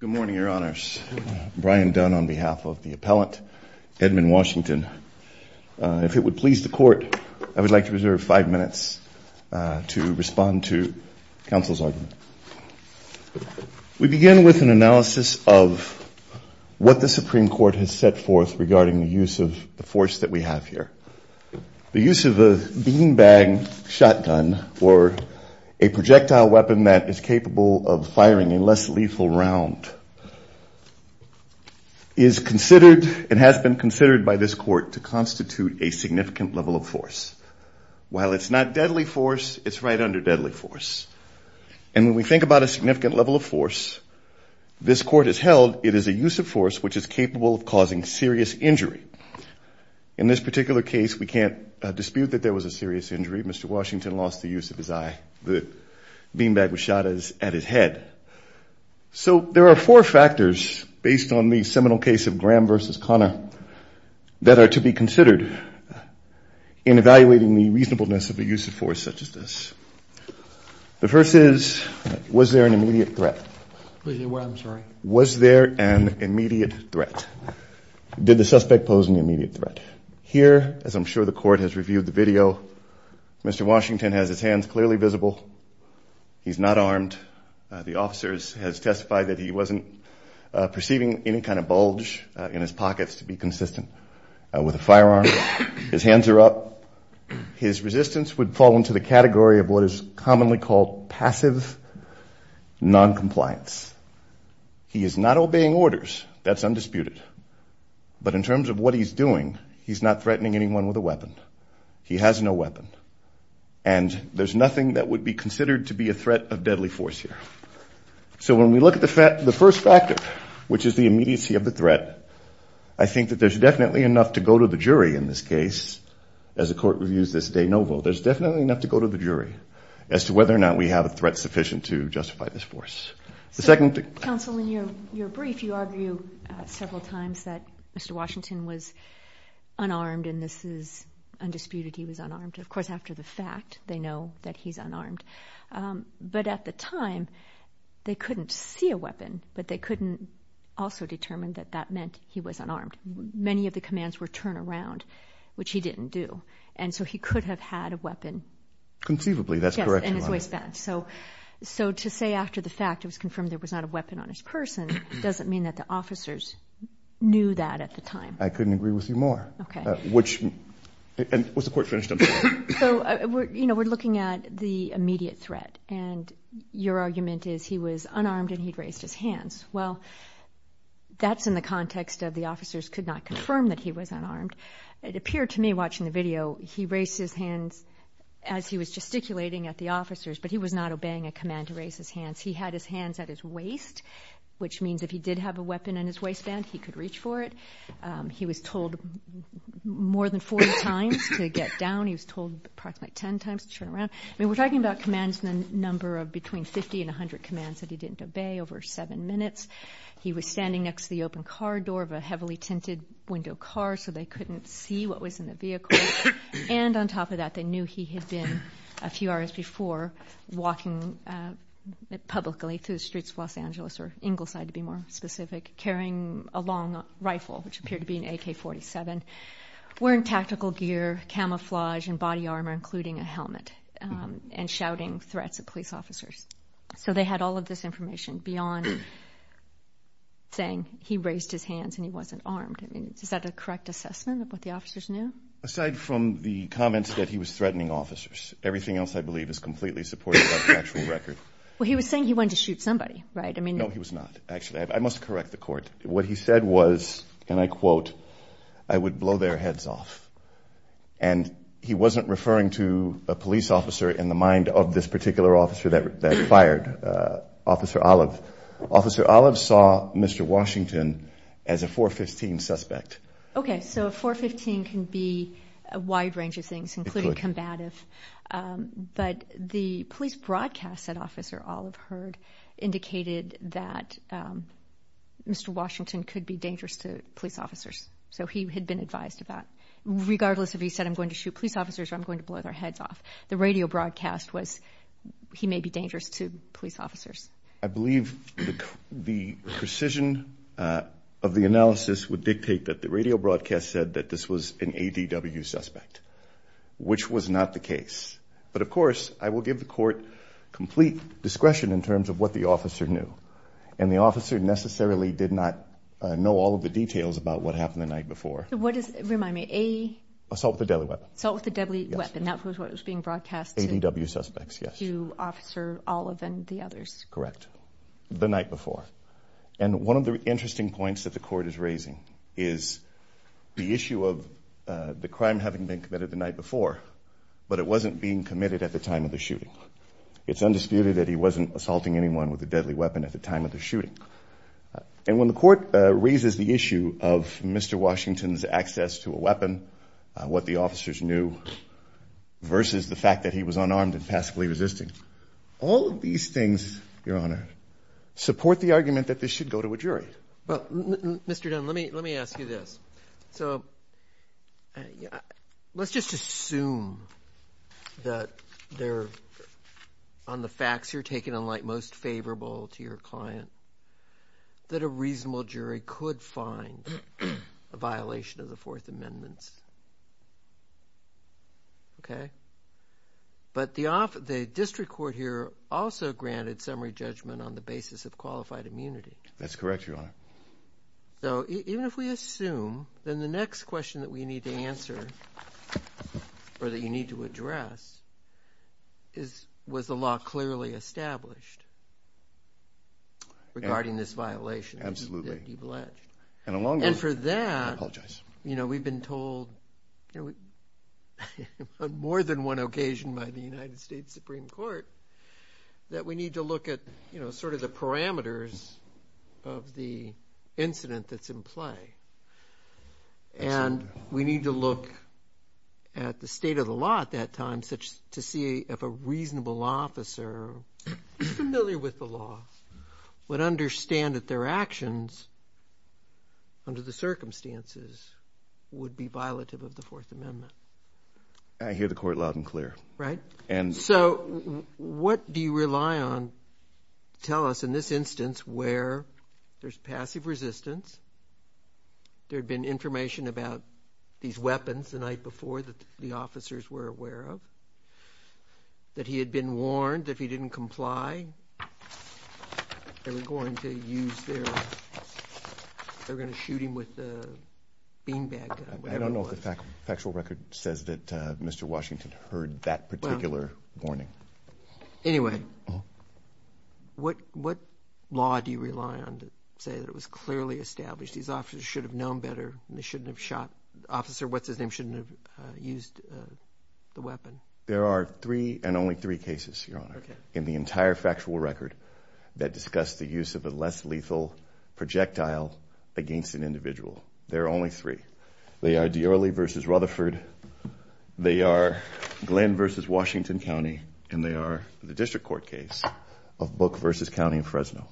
Good morning, Your Honors. Brian Dunn on behalf of the appellant, Edmon Washington. If it would please the Court, I would like to reserve five minutes to respond to counsel's argument. We begin with an analysis of what the Supreme Court has set forth regarding the use of the force that we have here. The use of a beanbag shotgun, or a projectile weapon that is capable of firing a less lethal round, is considered and has been considered by this Court to constitute a significant level of force. While it's not deadly force, it's right under deadly force. And when we think about a significant level of force, this Court has held it is a use of force which is capable of causing serious injury. In this particular case, we can't dispute that there was a serious injury. Mr. Washington lost the use of his eye. The beanbag was shot at his head. So there are four factors, based on the seminal case of Graham v. Conner, that are to be considered in evaluating the reasonableness of a use of force such as this. The first is, was there an immediate threat? Was there an immediate threat? Did the suspect pose an immediate threat? Here, as I'm sure the Court has reviewed the video, Mr. Washington has his hands clearly visible. He's not armed. The officer has testified that he wasn't perceiving any kind of bulge in his pockets to be consistent. With a firearm, his hands are up. His resistance would fall into the category of what is commonly called passive noncompliance. He is not obeying orders. That's undisputed. But in terms of what he's doing, he's not threatening anyone with a weapon. He has no weapon. And there's nothing that would be considered to be a threat of deadly force here. So when we look at the first factor, which is the immediacy of the threat, I think that there's definitely enough to go to the jury in this case, as the Court reviews this de novo. There's definitely enough to go to the jury as to whether or not we have a threat sufficient to justify this force. The second... Counsel, in your brief, you argue several times that Mr. Washington was unarmed and this is undisputed. He was unarmed. Of course, after the fact, they know that he's unarmed. But at the time, they couldn't see a weapon, but they couldn't also determine that that meant he was unarmed. Many of the commands were turn around, which he didn't do. And so he could have had a weapon. Conceivably, that's correct. Yes, and his waistband. So to say after the fact it was confirmed there was not a weapon on his person doesn't mean that the officers knew that at the time. I couldn't agree with you more. Okay. Which, and was the Court finished on that? So, you know, we're looking at the immediate threat and your argument is he was unarmed and he'd raised his hands. Well, that's in the context of the officers could not confirm that he was unarmed. It appeared to me watching the video, he raised his hands as he was gesticulating at the officers, but he was not obeying a command to raise his hands. He had his hands at his waist, which means if he did have a weapon in his waistband, he could reach for it. He was told more than 40 times to get down. He was told approximately 10 times to turn around. I mean, we're talking about commands in the number of between 50 and 100 commands that he didn't obey over seven minutes. He was standing next to the open car door of a heavily tinted window car, so they couldn't see what was in the vehicle. And on top of that, they knew he had been a few hours before walking publicly through the streets of Los Angeles, which appeared to be an AK-47, wearing tactical gear, camouflage and body armor, including a helmet and shouting threats at police officers. So they had all of this information beyond saying he raised his hands and he wasn't armed. I mean, is that a correct assessment of what the officers knew? Aside from the comments that he was threatening officers, everything else I believe is completely supported by the actual record. Well, he was saying he wanted to shoot somebody, right? I mean, no, he was not. Actually, I must correct the And I quote, I would blow their heads off. And he wasn't referring to a police officer in the mind of this particular officer that fired, Officer Olive. Officer Olive saw Mr. Washington as a 415 suspect. Okay, so a 415 can be a wide range of things, including combative. But the police broadcast that Officer Olive heard indicated that Mr. Washington could be dangerous to police officers. So he had been advised about, regardless if he said, I'm going to shoot police officers or I'm going to blow their heads off. The radio broadcast was he may be dangerous to police officers. I believe the precision of the analysis would dictate that the radio broadcast said that this was an ADW suspect, which was not the case. But of course, I will give the court complete discretion in terms of what the officer knew. And the officer necessarily did not know all of the details about what happened the night before. Remind me. Assault with a deadly weapon. Assault with a deadly weapon. That was what was being broadcast to Officer Olive and the others. Correct. The night before. And one of the interesting points that the court is raising is the issue of the crime having been committed the night before, but it wasn't being committed at the time of the weapon, at the time of the shooting. And when the court raises the issue of Mr. Washington's access to a weapon, what the officers knew versus the fact that he was unarmed and passively resisting, all of these things, Your Honor, support the argument that this should go to a jury. But Mr. Dunn, let me, let me ask you this. So let's just assume that they're on the facts you're taking in light most favorable to your client, that a reasonable jury could find a violation of the Fourth Amendment. Okay. But the district court here also granted summary judgment on the basis of qualified immunity. That's correct, Your Honor. So even if we assume, then the next question that we need to answer, or that you need to address, is, was the law clearly established regarding this violation? Absolutely. And for that, you know, we've been told on more than one occasion by the United States Supreme Court that we need to look at, you know, sort of the parameters of the incident that's in play. Absolutely. And we need to look at the state of the law at that time to see if a reasonable officer familiar with the law would understand that their actions under the circumstances would be violative of the Fourth Amendment. I hear the court loud and clear. Right? And so what do you rely on to tell us in this instance where there's passive resistance, there had been information about these weapons the night before that the officers were aware of, that he had been warned that if he didn't comply, they were going to use their, they were going to shoot him with a beanbag gun, whatever it was. I don't know if the factual record says that Mr. Washington heard that particular warning. Anyway, what law do you rely on to tell us that he should have known better and they shouldn't have shot, the officer, what's his name, shouldn't have used the weapon? There are three and only three cases, Your Honor, in the entire factual record that discuss the use of a less lethal projectile against an individual. There are only three. They are Diorre versus Rutherford. They are Glenn versus Washington County. And they are the district court case of Book versus County Fresno.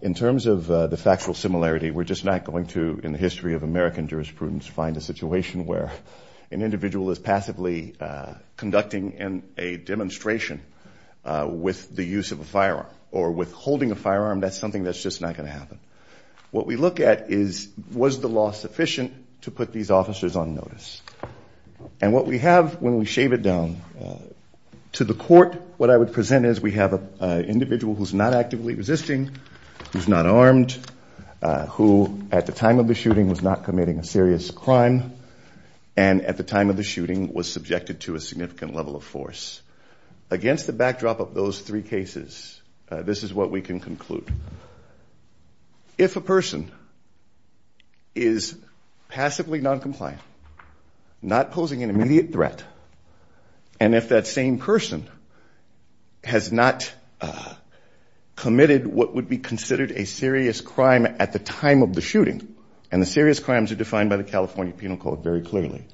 In terms of the factual similarity, we're just not going to, in the history of American jurisprudence, find a situation where an individual is passively conducting a demonstration with the use of a firearm or with holding a firearm. That's something that's just not going to happen. What we look at is was the law sufficient to put these officers on notice? And what we have when we shave it down to the court, what I would present is we have an individual who's not actively resisting, who's not armed, who at the time of the shooting was not committing a serious crime, and at the time of the shooting was subjected to a significant level of force. Against the backdrop of those three cases, this is what we can conclude. If a person is passively noncompliant, not posing an immediate threat, and if that same person has not committed what would be considered a serious crime at the time of the shooting, and the serious crimes are defined by the California Penal Code very clearly,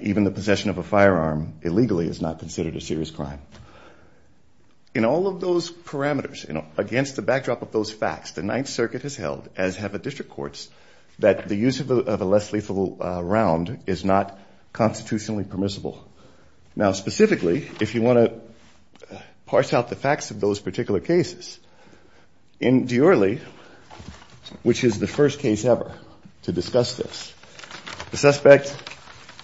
even the possession of a firearm illegally is not considered a serious crime. In all of those parameters, against the backdrop of those facts, the Ninth Circuit has held, as have the district courts, that the use of a less lethal round is not constitutionally permissible. Now, specifically, if you want to parse out the facts of those particular cases, in Diorley, which is the first case ever to discuss this, the suspect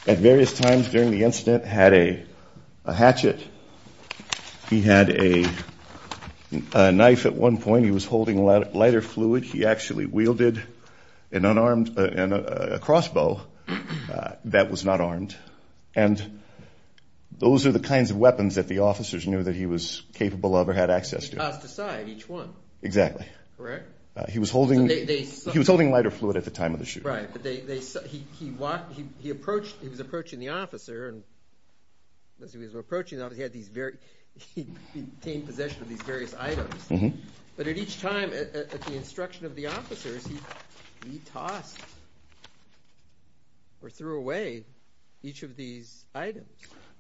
at various times during the incident had a hatchet. He had a knife at one point. He was holding lighter fluid. He actually wielded an unarmed, a crossbow that was not armed, and the suspect had a crossbow, and those are the kinds of weapons that the officers knew that he was capable of or had access to. He tossed aside each one. Exactly. Correct? He was holding lighter fluid at the time of the shooting. Right. He was approaching the officer, and as he was approaching, he had these very, he'd obtained possession of these various items, but at each time, at the instruction of the officers, he tossed or threw away each of these items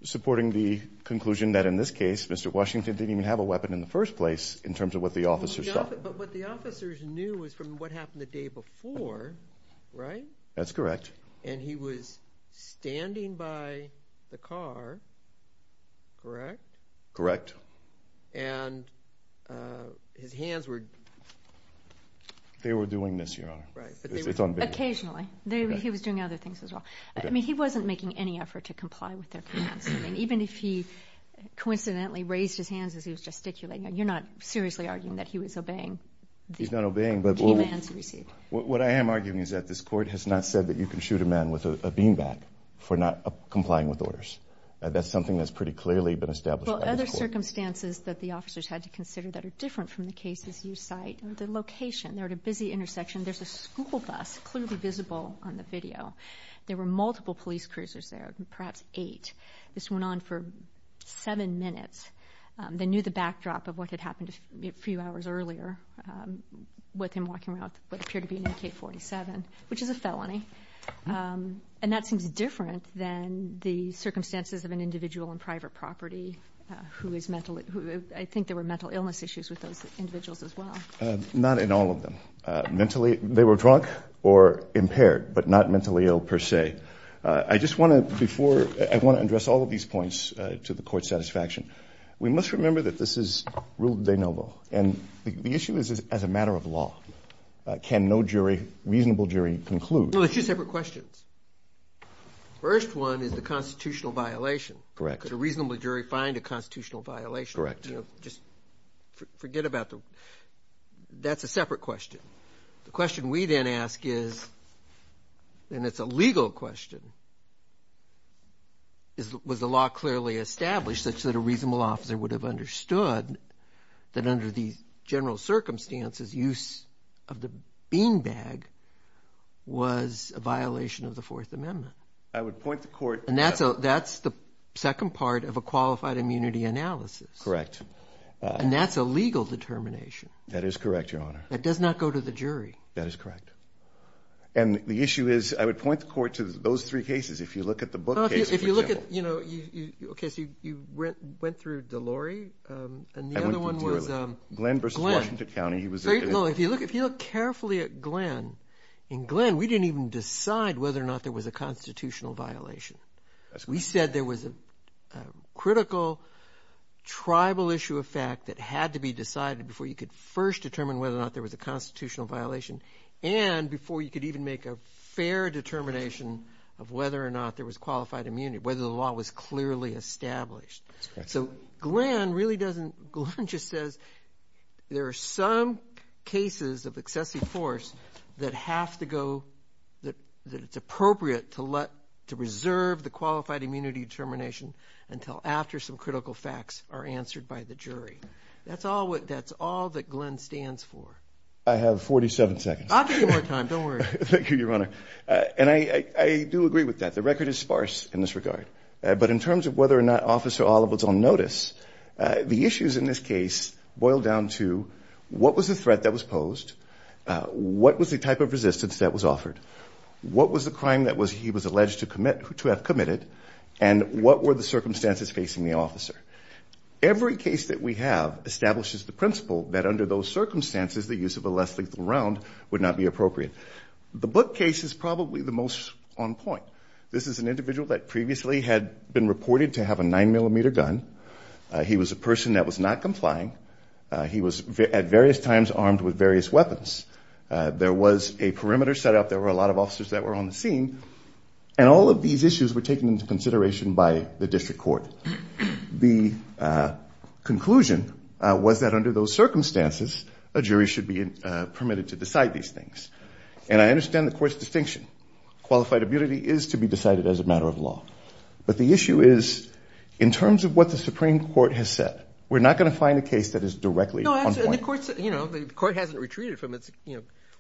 Supporting the conclusion that, in this case, Mr. Washington didn't even have a weapon in the first place, in terms of what the officers saw. But what the officers knew was from what happened the day before, right? That's correct. And he was standing by the car, correct? Correct. And his hands were... They were doing this, Your Honor. Right. Occasionally. He was doing other things as well. I mean, he wasn't making any effort to comply with their commands. Even if he coincidentally raised his hands as he was gesticulating, you're not seriously arguing that he was obeying the commands he received. He's not obeying, but what I am arguing is that this Court has not said that you can shoot a man with a bean bag for not complying with orders. That's something that's pretty clearly been established by this Court. Well, other circumstances that the officers had to consider that are different from the cases you cite, the location. They're at a busy intersection. There's a school bus clearly visible on the video. There were multiple police cruisers there, perhaps eight. This went on for seven minutes. They knew the backdrop of what had happened a few hours earlier with him walking around what appeared to be an AK-47, which is a felony. And that seems different than the circumstances of an individual on private property who is mentally... I think there were mental illness issues with those individuals as well. Not in all of them. Mentally, they were drunk or impaired, but not mentally ill per se. I just want to, before... I want to address all of these points to the Court's satisfaction. We must remember that this is rule de novo, and the issue is as a matter of law. Can no jury, reasonable jury, conclude... No, there's two separate questions. First one is the constitutional violation. Correct. Could a reasonable jury find a constitutional violation? Correct. Just forget about the... That's a separate question. The question we then ask is, and it's a legal question, was the law clearly established such that a reasonable officer would have understood that under these general circumstances, use of the beanbag was a violation of the Fourth Amendment? I would point the Court... That's the second part of a qualified immunity analysis. Correct. And that's a legal determination. That is correct, Your Honor. That does not go to the jury. That is correct. And the issue is, I would point the Court to those three cases. If you look at the book case for Jim... If you look at, you know, okay, so you went through Delorey, and the other one was Glenn. I went through Delorey. Glenn versus Washington County. He was... No, if you look carefully at Glenn, in Glenn, we didn't even decide whether or not there was a constitutional violation. We said there was a critical tribal issue of fact that had to be decided before you could first determine whether or not there was a constitutional violation, and before you could even make a fair determination of whether or not there was qualified immunity, whether the law was clearly established. So Glenn really doesn't... Glenn just says there are some cases of excessive force that have to go... that it's appropriate to let... to reserve the qualified immunity determination until after some critical facts are answered by the jury. That's all that Glenn stands for. I have 47 seconds. I'll give you more time. Don't worry. Thank you, Your Honor. And I do agree with that. The record is sparse in this regard. But in terms of whether or not Officer Oliver's on notice, the issues in this case boil down to what was the threat that was posed, what was the type of resistance that was offered, what was the crime that he was alleged to have committed, and what were the circumstances facing the officer. Every case that we have establishes the principle that under those circumstances, the use of a less lethal round would not be appropriate. The Book case is probably the most on point. This is an individual that previously had been reported to have a 9-millimeter gun. He was a person that was not complying. He was at various times armed with various weapons. There was a perimeter set up. There were a lot of officers that were on the scene. And all of these issues were taken into consideration by the district court. The conclusion was that under those circumstances, a jury should be permitted to decide these things. And I understand the court's distinction. Qualified immunity is to be decided as a matter of law. But the issue is, in terms of what the Supreme Court has said, we're not going to find a case that is directly on point. No, and the court hasn't retreated from its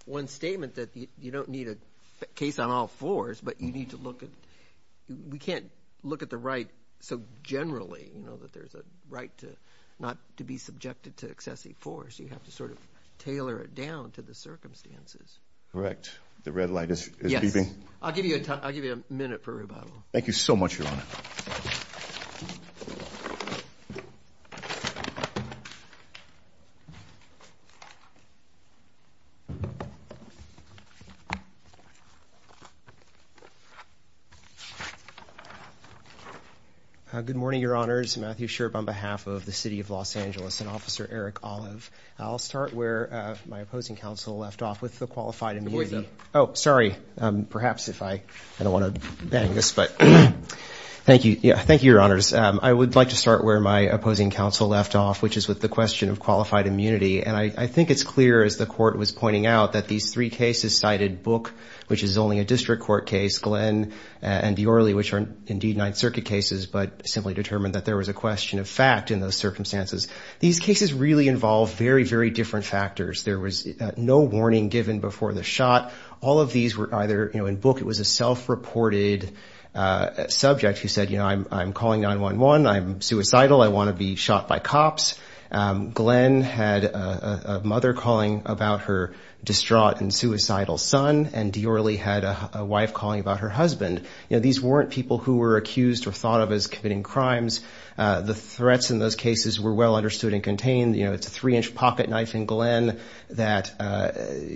one statement that you don't need a case on all fours, but you need to look at, we can't look at the right so generally, that there's a right to not to be subjected to excessive force. You have to sort of tailor it down to the circumstances. Correct. The red light is beeping. Yes. I'll give you a minute for rebuttal. Thank you so much, Your Honor. Good morning, Your Honors. Matthew Sherb on behalf of the City of Los Angeles and Officer Eric Olive. I'll start where my opposing counsel left off with the qualified immunity. Excuse him. Oh, sorry. Perhaps if I, I don't want to bang this, but. Thank you. Thank you, Your Honors. I would like to start where my opposing counsel left off, which is with the question of qualified immunity. And I think it's clear, as the court was pointing out, that these three cases cited, Book, which is only a district court case, Glenn, and Biorle, which are indeed Ninth Circuit cases, but simply determined that there was a question of fact in those circumstances. These cases really involve very, very different factors. There was no warning given before the shot. All of these were either, you know, in Book, it was a self-reported subject who said, you know, I'm calling 911. I'm suicidal. I want to be shot by cops. Glenn had a mother calling about her distraught and suicidal son, and Biorle had a wife calling about her husband. You know, these weren't people who were accused or thought of as committing crimes. The threats in those cases were well understood and contained. You know, it's a three-inch pocket knife in Glenn that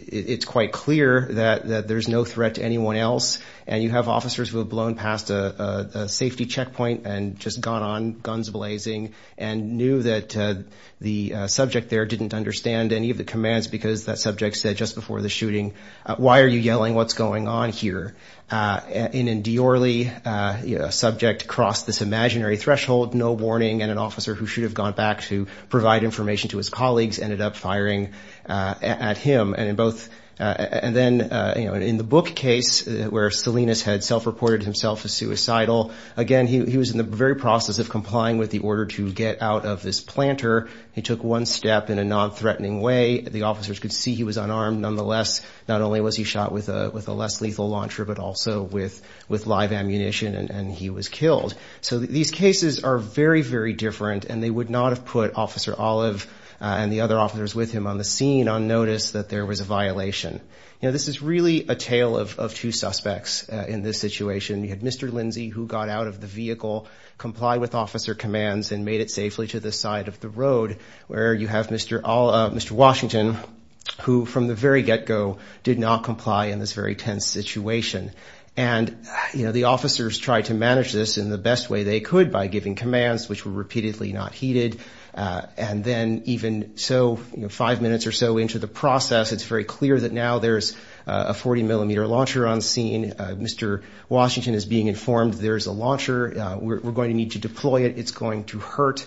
it's quite clear that there's no threat to anyone else. And you have officers who have blown past a safety checkpoint and just gone on guns blazing and knew that the subject there didn't understand any of the commands because that subject said just before the shooting, why are you yelling? What's going on here? And in Biorle, a subject crossed this imaginary threshold, no warning, and an officer who provided information to his colleagues ended up firing at him. And then, you know, in the Book case where Salinas had self-reported himself as suicidal, again, he was in the very process of complying with the order to get out of this planter. He took one step in a non-threatening way. The officers could see he was unarmed. Nonetheless, not only was he shot with a less lethal launcher, but also with live ammunition and he was killed. So these cases are very, very different and they would not have put Officer Olive and the other officers with him on the scene on notice that there was a violation. This is really a tale of two suspects in this situation. You had Mr. Lindsey, who got out of the vehicle, complied with officer commands and made it safely to the side of the road, where you have Mr. Washington, who from the very get-go did not comply in this very tense situation. And, you know, the officers tried to manage this in the best way they could by giving commands, which were repeatedly not heeded. And then even so, five minutes or so into the process, it's very clear that now there's a 40 millimeter launcher on scene. Mr. Washington is being informed there is a launcher. We're going to need to deploy it. It's going to hurt.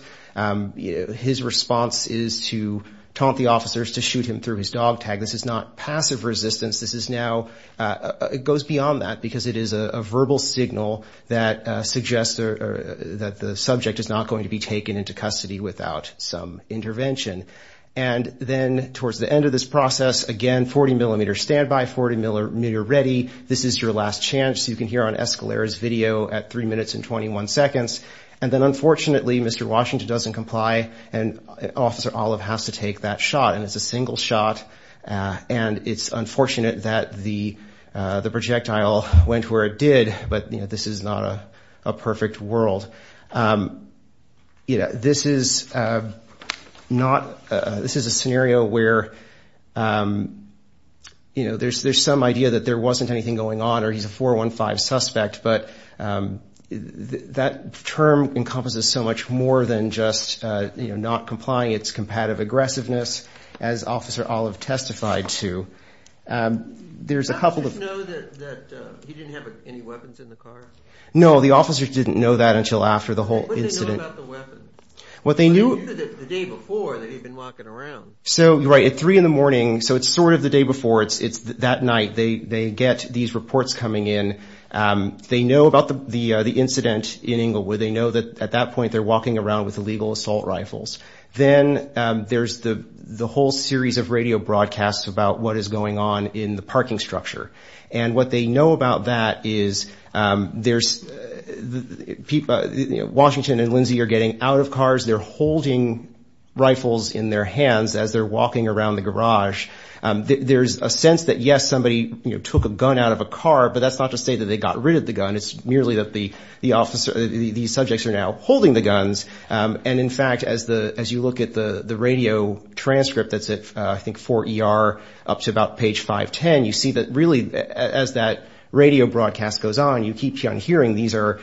His response is to taunt the officers to shoot him through his dog tag. This is not passive resistance. This is now, it goes beyond that because it is a verbal signal that suggests that the subject is not going to be taken into custody without some intervention. And then towards the end of this process, again, 40 millimeter standby, 40 millimeter ready. This is your last chance. You can hear on Escalera's video at three minutes and 21 seconds. And then unfortunately, Mr. Washington doesn't comply and Officer Olive has to take that shot. And it's a single shot. And it's unfortunate that the projectile went where it did. But this is not a perfect world. You know, this is not, this is a scenario where, you know, there's some idea that there wasn't anything going on or he's a 415 suspect. But that term encompasses so much more than just not complying. It's competitive aggressiveness, as Officer Olive testified to. There's a couple of... Did the officers know that he didn't have any weapons in the car? No, the officers didn't know that until after the whole incident. What did they know about the weapon? They knew the day before that he'd been walking around. So right at three in the morning. So it's sort of the day before. It's that night they get these reports coming in. They know about the incident in Inglewood. They know that at that point they're walking around with illegal assault rifles. Then there's the whole series of radio broadcasts about what is going on in the parking structure. And what they know about that is Washington and Lindsey are getting out of cars. They're holding rifles in their hands as they're walking around the garage. There's a sense that, yes, somebody took a gun out of a car. But that's not to say that they got rid of the gun. It's merely that the officer, these subjects are now holding the guns. And in fact, as you look at the radio transcript that's at, I think, 4 ER up to about page 510, you see that really as that radio broadcast goes on, you keep hearing these are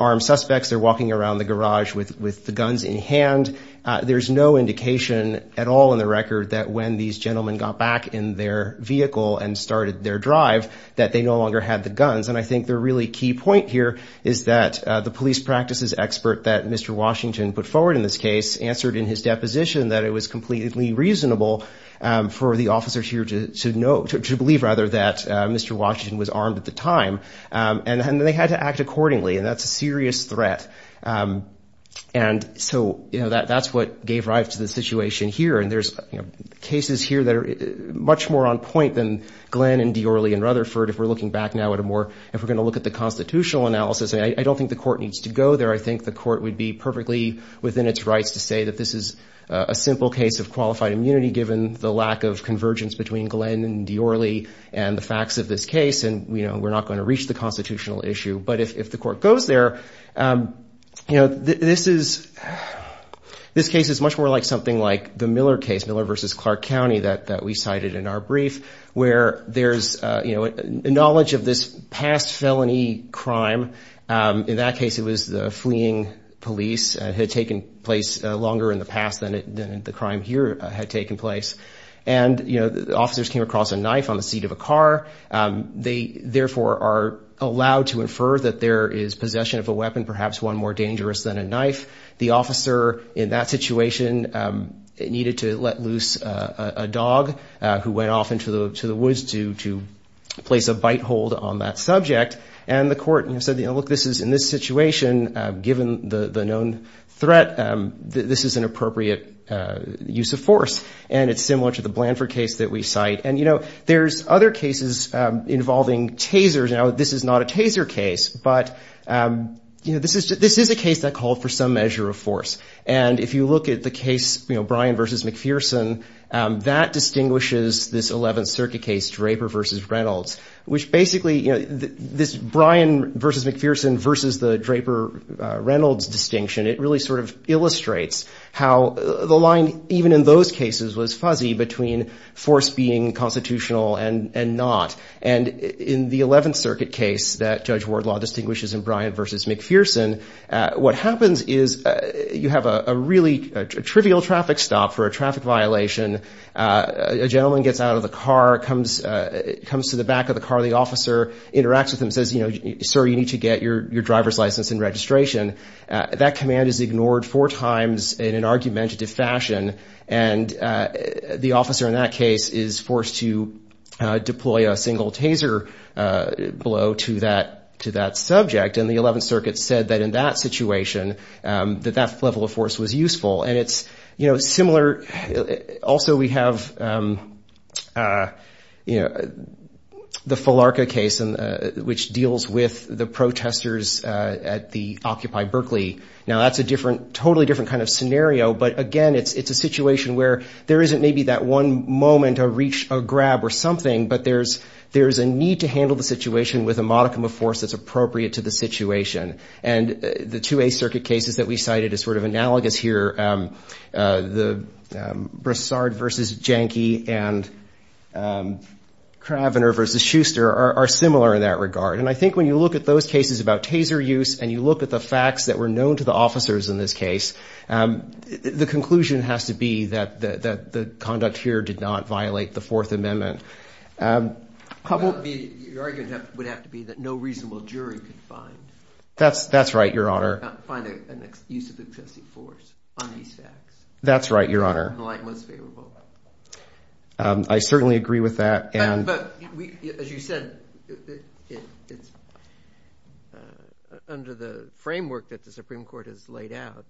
armed suspects. They're walking around the garage with the guns in hand. There's no indication at all in the record that when these gentlemen got back in their vehicle and started their drive, that they no longer had the guns. And I think the really key point here is that the police practices expert that Mr. Washington put forward in this case answered in his deposition that it was completely reasonable for the officers here to believe that Mr. Washington was armed at the time. And they had to act accordingly. And that's a serious threat. And so that's what gave rise to the situation here. And there's cases here that are much more on point than Glenn and Diorly and Rutherford, if we're looking back now at a more, if we're going to look at the constitutional analysis. And I don't think the court needs to go there. I think the court would be perfectly within its rights to say that this is a simple case of qualified immunity, given the lack of convergence between Glenn and Diorly and the facts of this case. And, you know, we're not going to reach the constitutional issue. But if the court goes there, you know, this is this case is much more like something like the Miller case, Miller versus Clark County, that we cited in our brief, where there's, you know, knowledge of this past felony crime. In that case, it was the fleeing police had taken place longer in the past than the crime here had taken place. And, you know, the officers came across a knife on the seat of a car. They therefore are allowed to infer that there is possession of a weapon, perhaps one more dangerous than a knife. The officer in that situation needed to let loose a dog who went off into the woods to place a bite hold on that subject. And the court said, you know, look, this is in this situation, given the known threat, this is an appropriate use of force. And it's similar to the Blanford case that we cite. And, you know, there's other cases involving tasers. Now, this is not a taser case, but, you know, this is this is a case that called for some measure of force. And if you look at the case, you know, Bryan versus McPherson, that distinguishes this 11th Circuit case, Draper versus Reynolds, which basically, you know, this Bryan versus McPherson versus the Draper Reynolds distinction, it really sort of illustrates how the line, even in those cases, was fuzzy between force being constitutional and not. And in the 11th Circuit case that Judge Wardlaw distinguishes in Bryan versus McPherson, what happens is you have a really trivial traffic stop for a traffic violation. A gentleman gets out of the car, comes to the back of the car. The officer interacts with him, says, you know, sir, you need to get your driver's license and registration. That command is ignored four times in an argumentative fashion. And the officer in that case is forced to deploy a single taser blow to that to that subject. And the 11th Circuit said that in that situation, that that level of force was useful. And it's, you know, similar. Also, we have, you know, the Falarka case, which deals with the protesters at the Occupy Berkeley. Now, that's a different, totally different kind of scenario. But again, it's a situation where there isn't maybe that one moment to reach a grab or something, but there's a need to handle the situation with a modicum of force that's appropriate to the situation. And the two 8th Circuit cases that we cited is sort of analogous here. The Brassard versus Jahnke and Cravener versus Schuster are similar in that regard. And I think when you look at those cases about taser use and you look at the facts that were known to the officers in this case, the conclusion has to be that the conduct here did not violate the Fourth Amendment. How about the argument would have to be that no reasonable jury could find. That's that's right, Your Honor. Find a use of excessive force on these facts. That's right, Your Honor. The light was favorable. I certainly agree with that. But as you said, it's under the framework that the Supreme Court has laid out.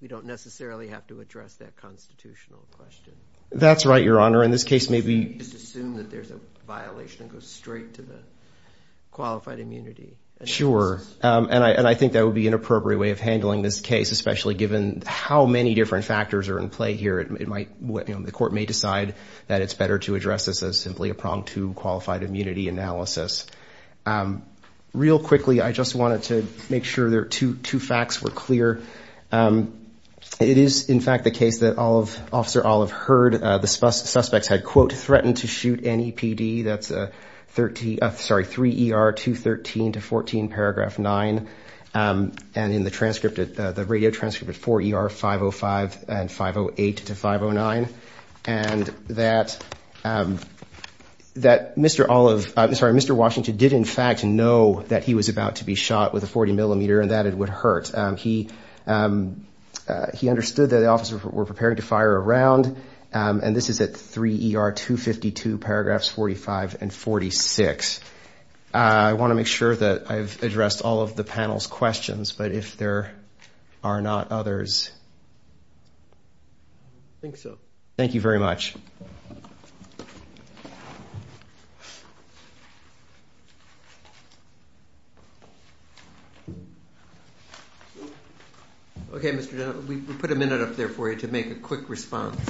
We don't necessarily have to address that constitutional question. That's right, Your Honor. In this case, maybe assume that there's a violation that goes straight to the qualified immunity. Sure. And I think that would be an appropriate way of handling this case, especially given how many different factors are in play here. It might be the court may decide that it's better to address this as simply a prong to qualified immunity analysis. Real quickly, I just wanted to make sure there are two facts were clear. It is, in fact, the case that Officer Olive heard the suspects had, quote, threatened to shoot any PD. That's 3 ER 213 to 14 paragraph 9. And in the transcript, the radio transcript at 4 ER 505 and 508 to 509. And that Mr. Olive, I'm sorry, Mr. Washington did, in fact, know that he was about to be shot with a 40 millimeter and that it would hurt. He he understood that the officers were preparing to fire a round. And this is at 3 ER 252 paragraphs 45 and 46. I want to make sure that I've addressed all of the panel's questions. But if there are not others. I think so. Thank you very much. OK, Mr. Now, we put a minute up there for you to make a quick response.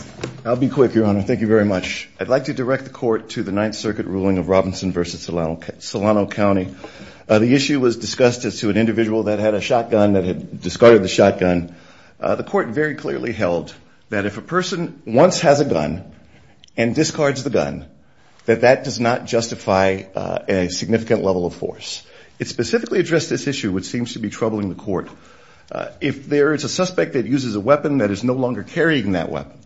I'll be quick, Your Honor. Thank you very much. I'd like to direct the court to the Ninth Circuit ruling of Robinson versus Solano, Solano County. The issue was discussed as to an individual that had a shotgun that had discarded the shotgun. The court very clearly held that if a person once has a gun and discards the gun, that that does not justify a significant level of force. It specifically addressed this issue, which seems to be troubling the court. If there is a suspect that uses a weapon that is no longer carrying that weapon,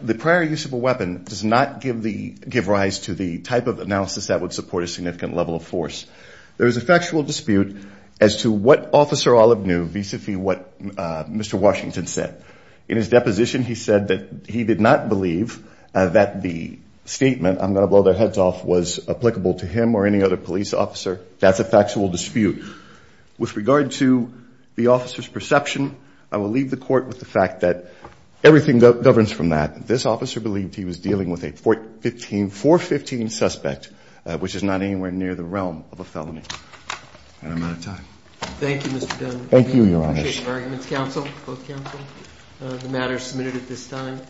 the prior use of a weapon does not give the give rise to the type of analysis that would support a significant level of force. There is a factual dispute as to what officer Olive knew vis-a-vis what Mr. Washington said in his deposition. He said that he did not believe that the statement, I'm going to blow their heads off, was applicable to him or any other police officer. That's a factual dispute. With regard to the officer's perception, I will leave the court with the fact that everything governs from that. This officer believed he was dealing with a 415 suspect, which is not anywhere near the realm of a felony. And I'm out of time. Thank you, Mr. Dunn. Thank you, Your Honor. I appreciate your arguments, counsel, both counsel, the matter submitted at this time.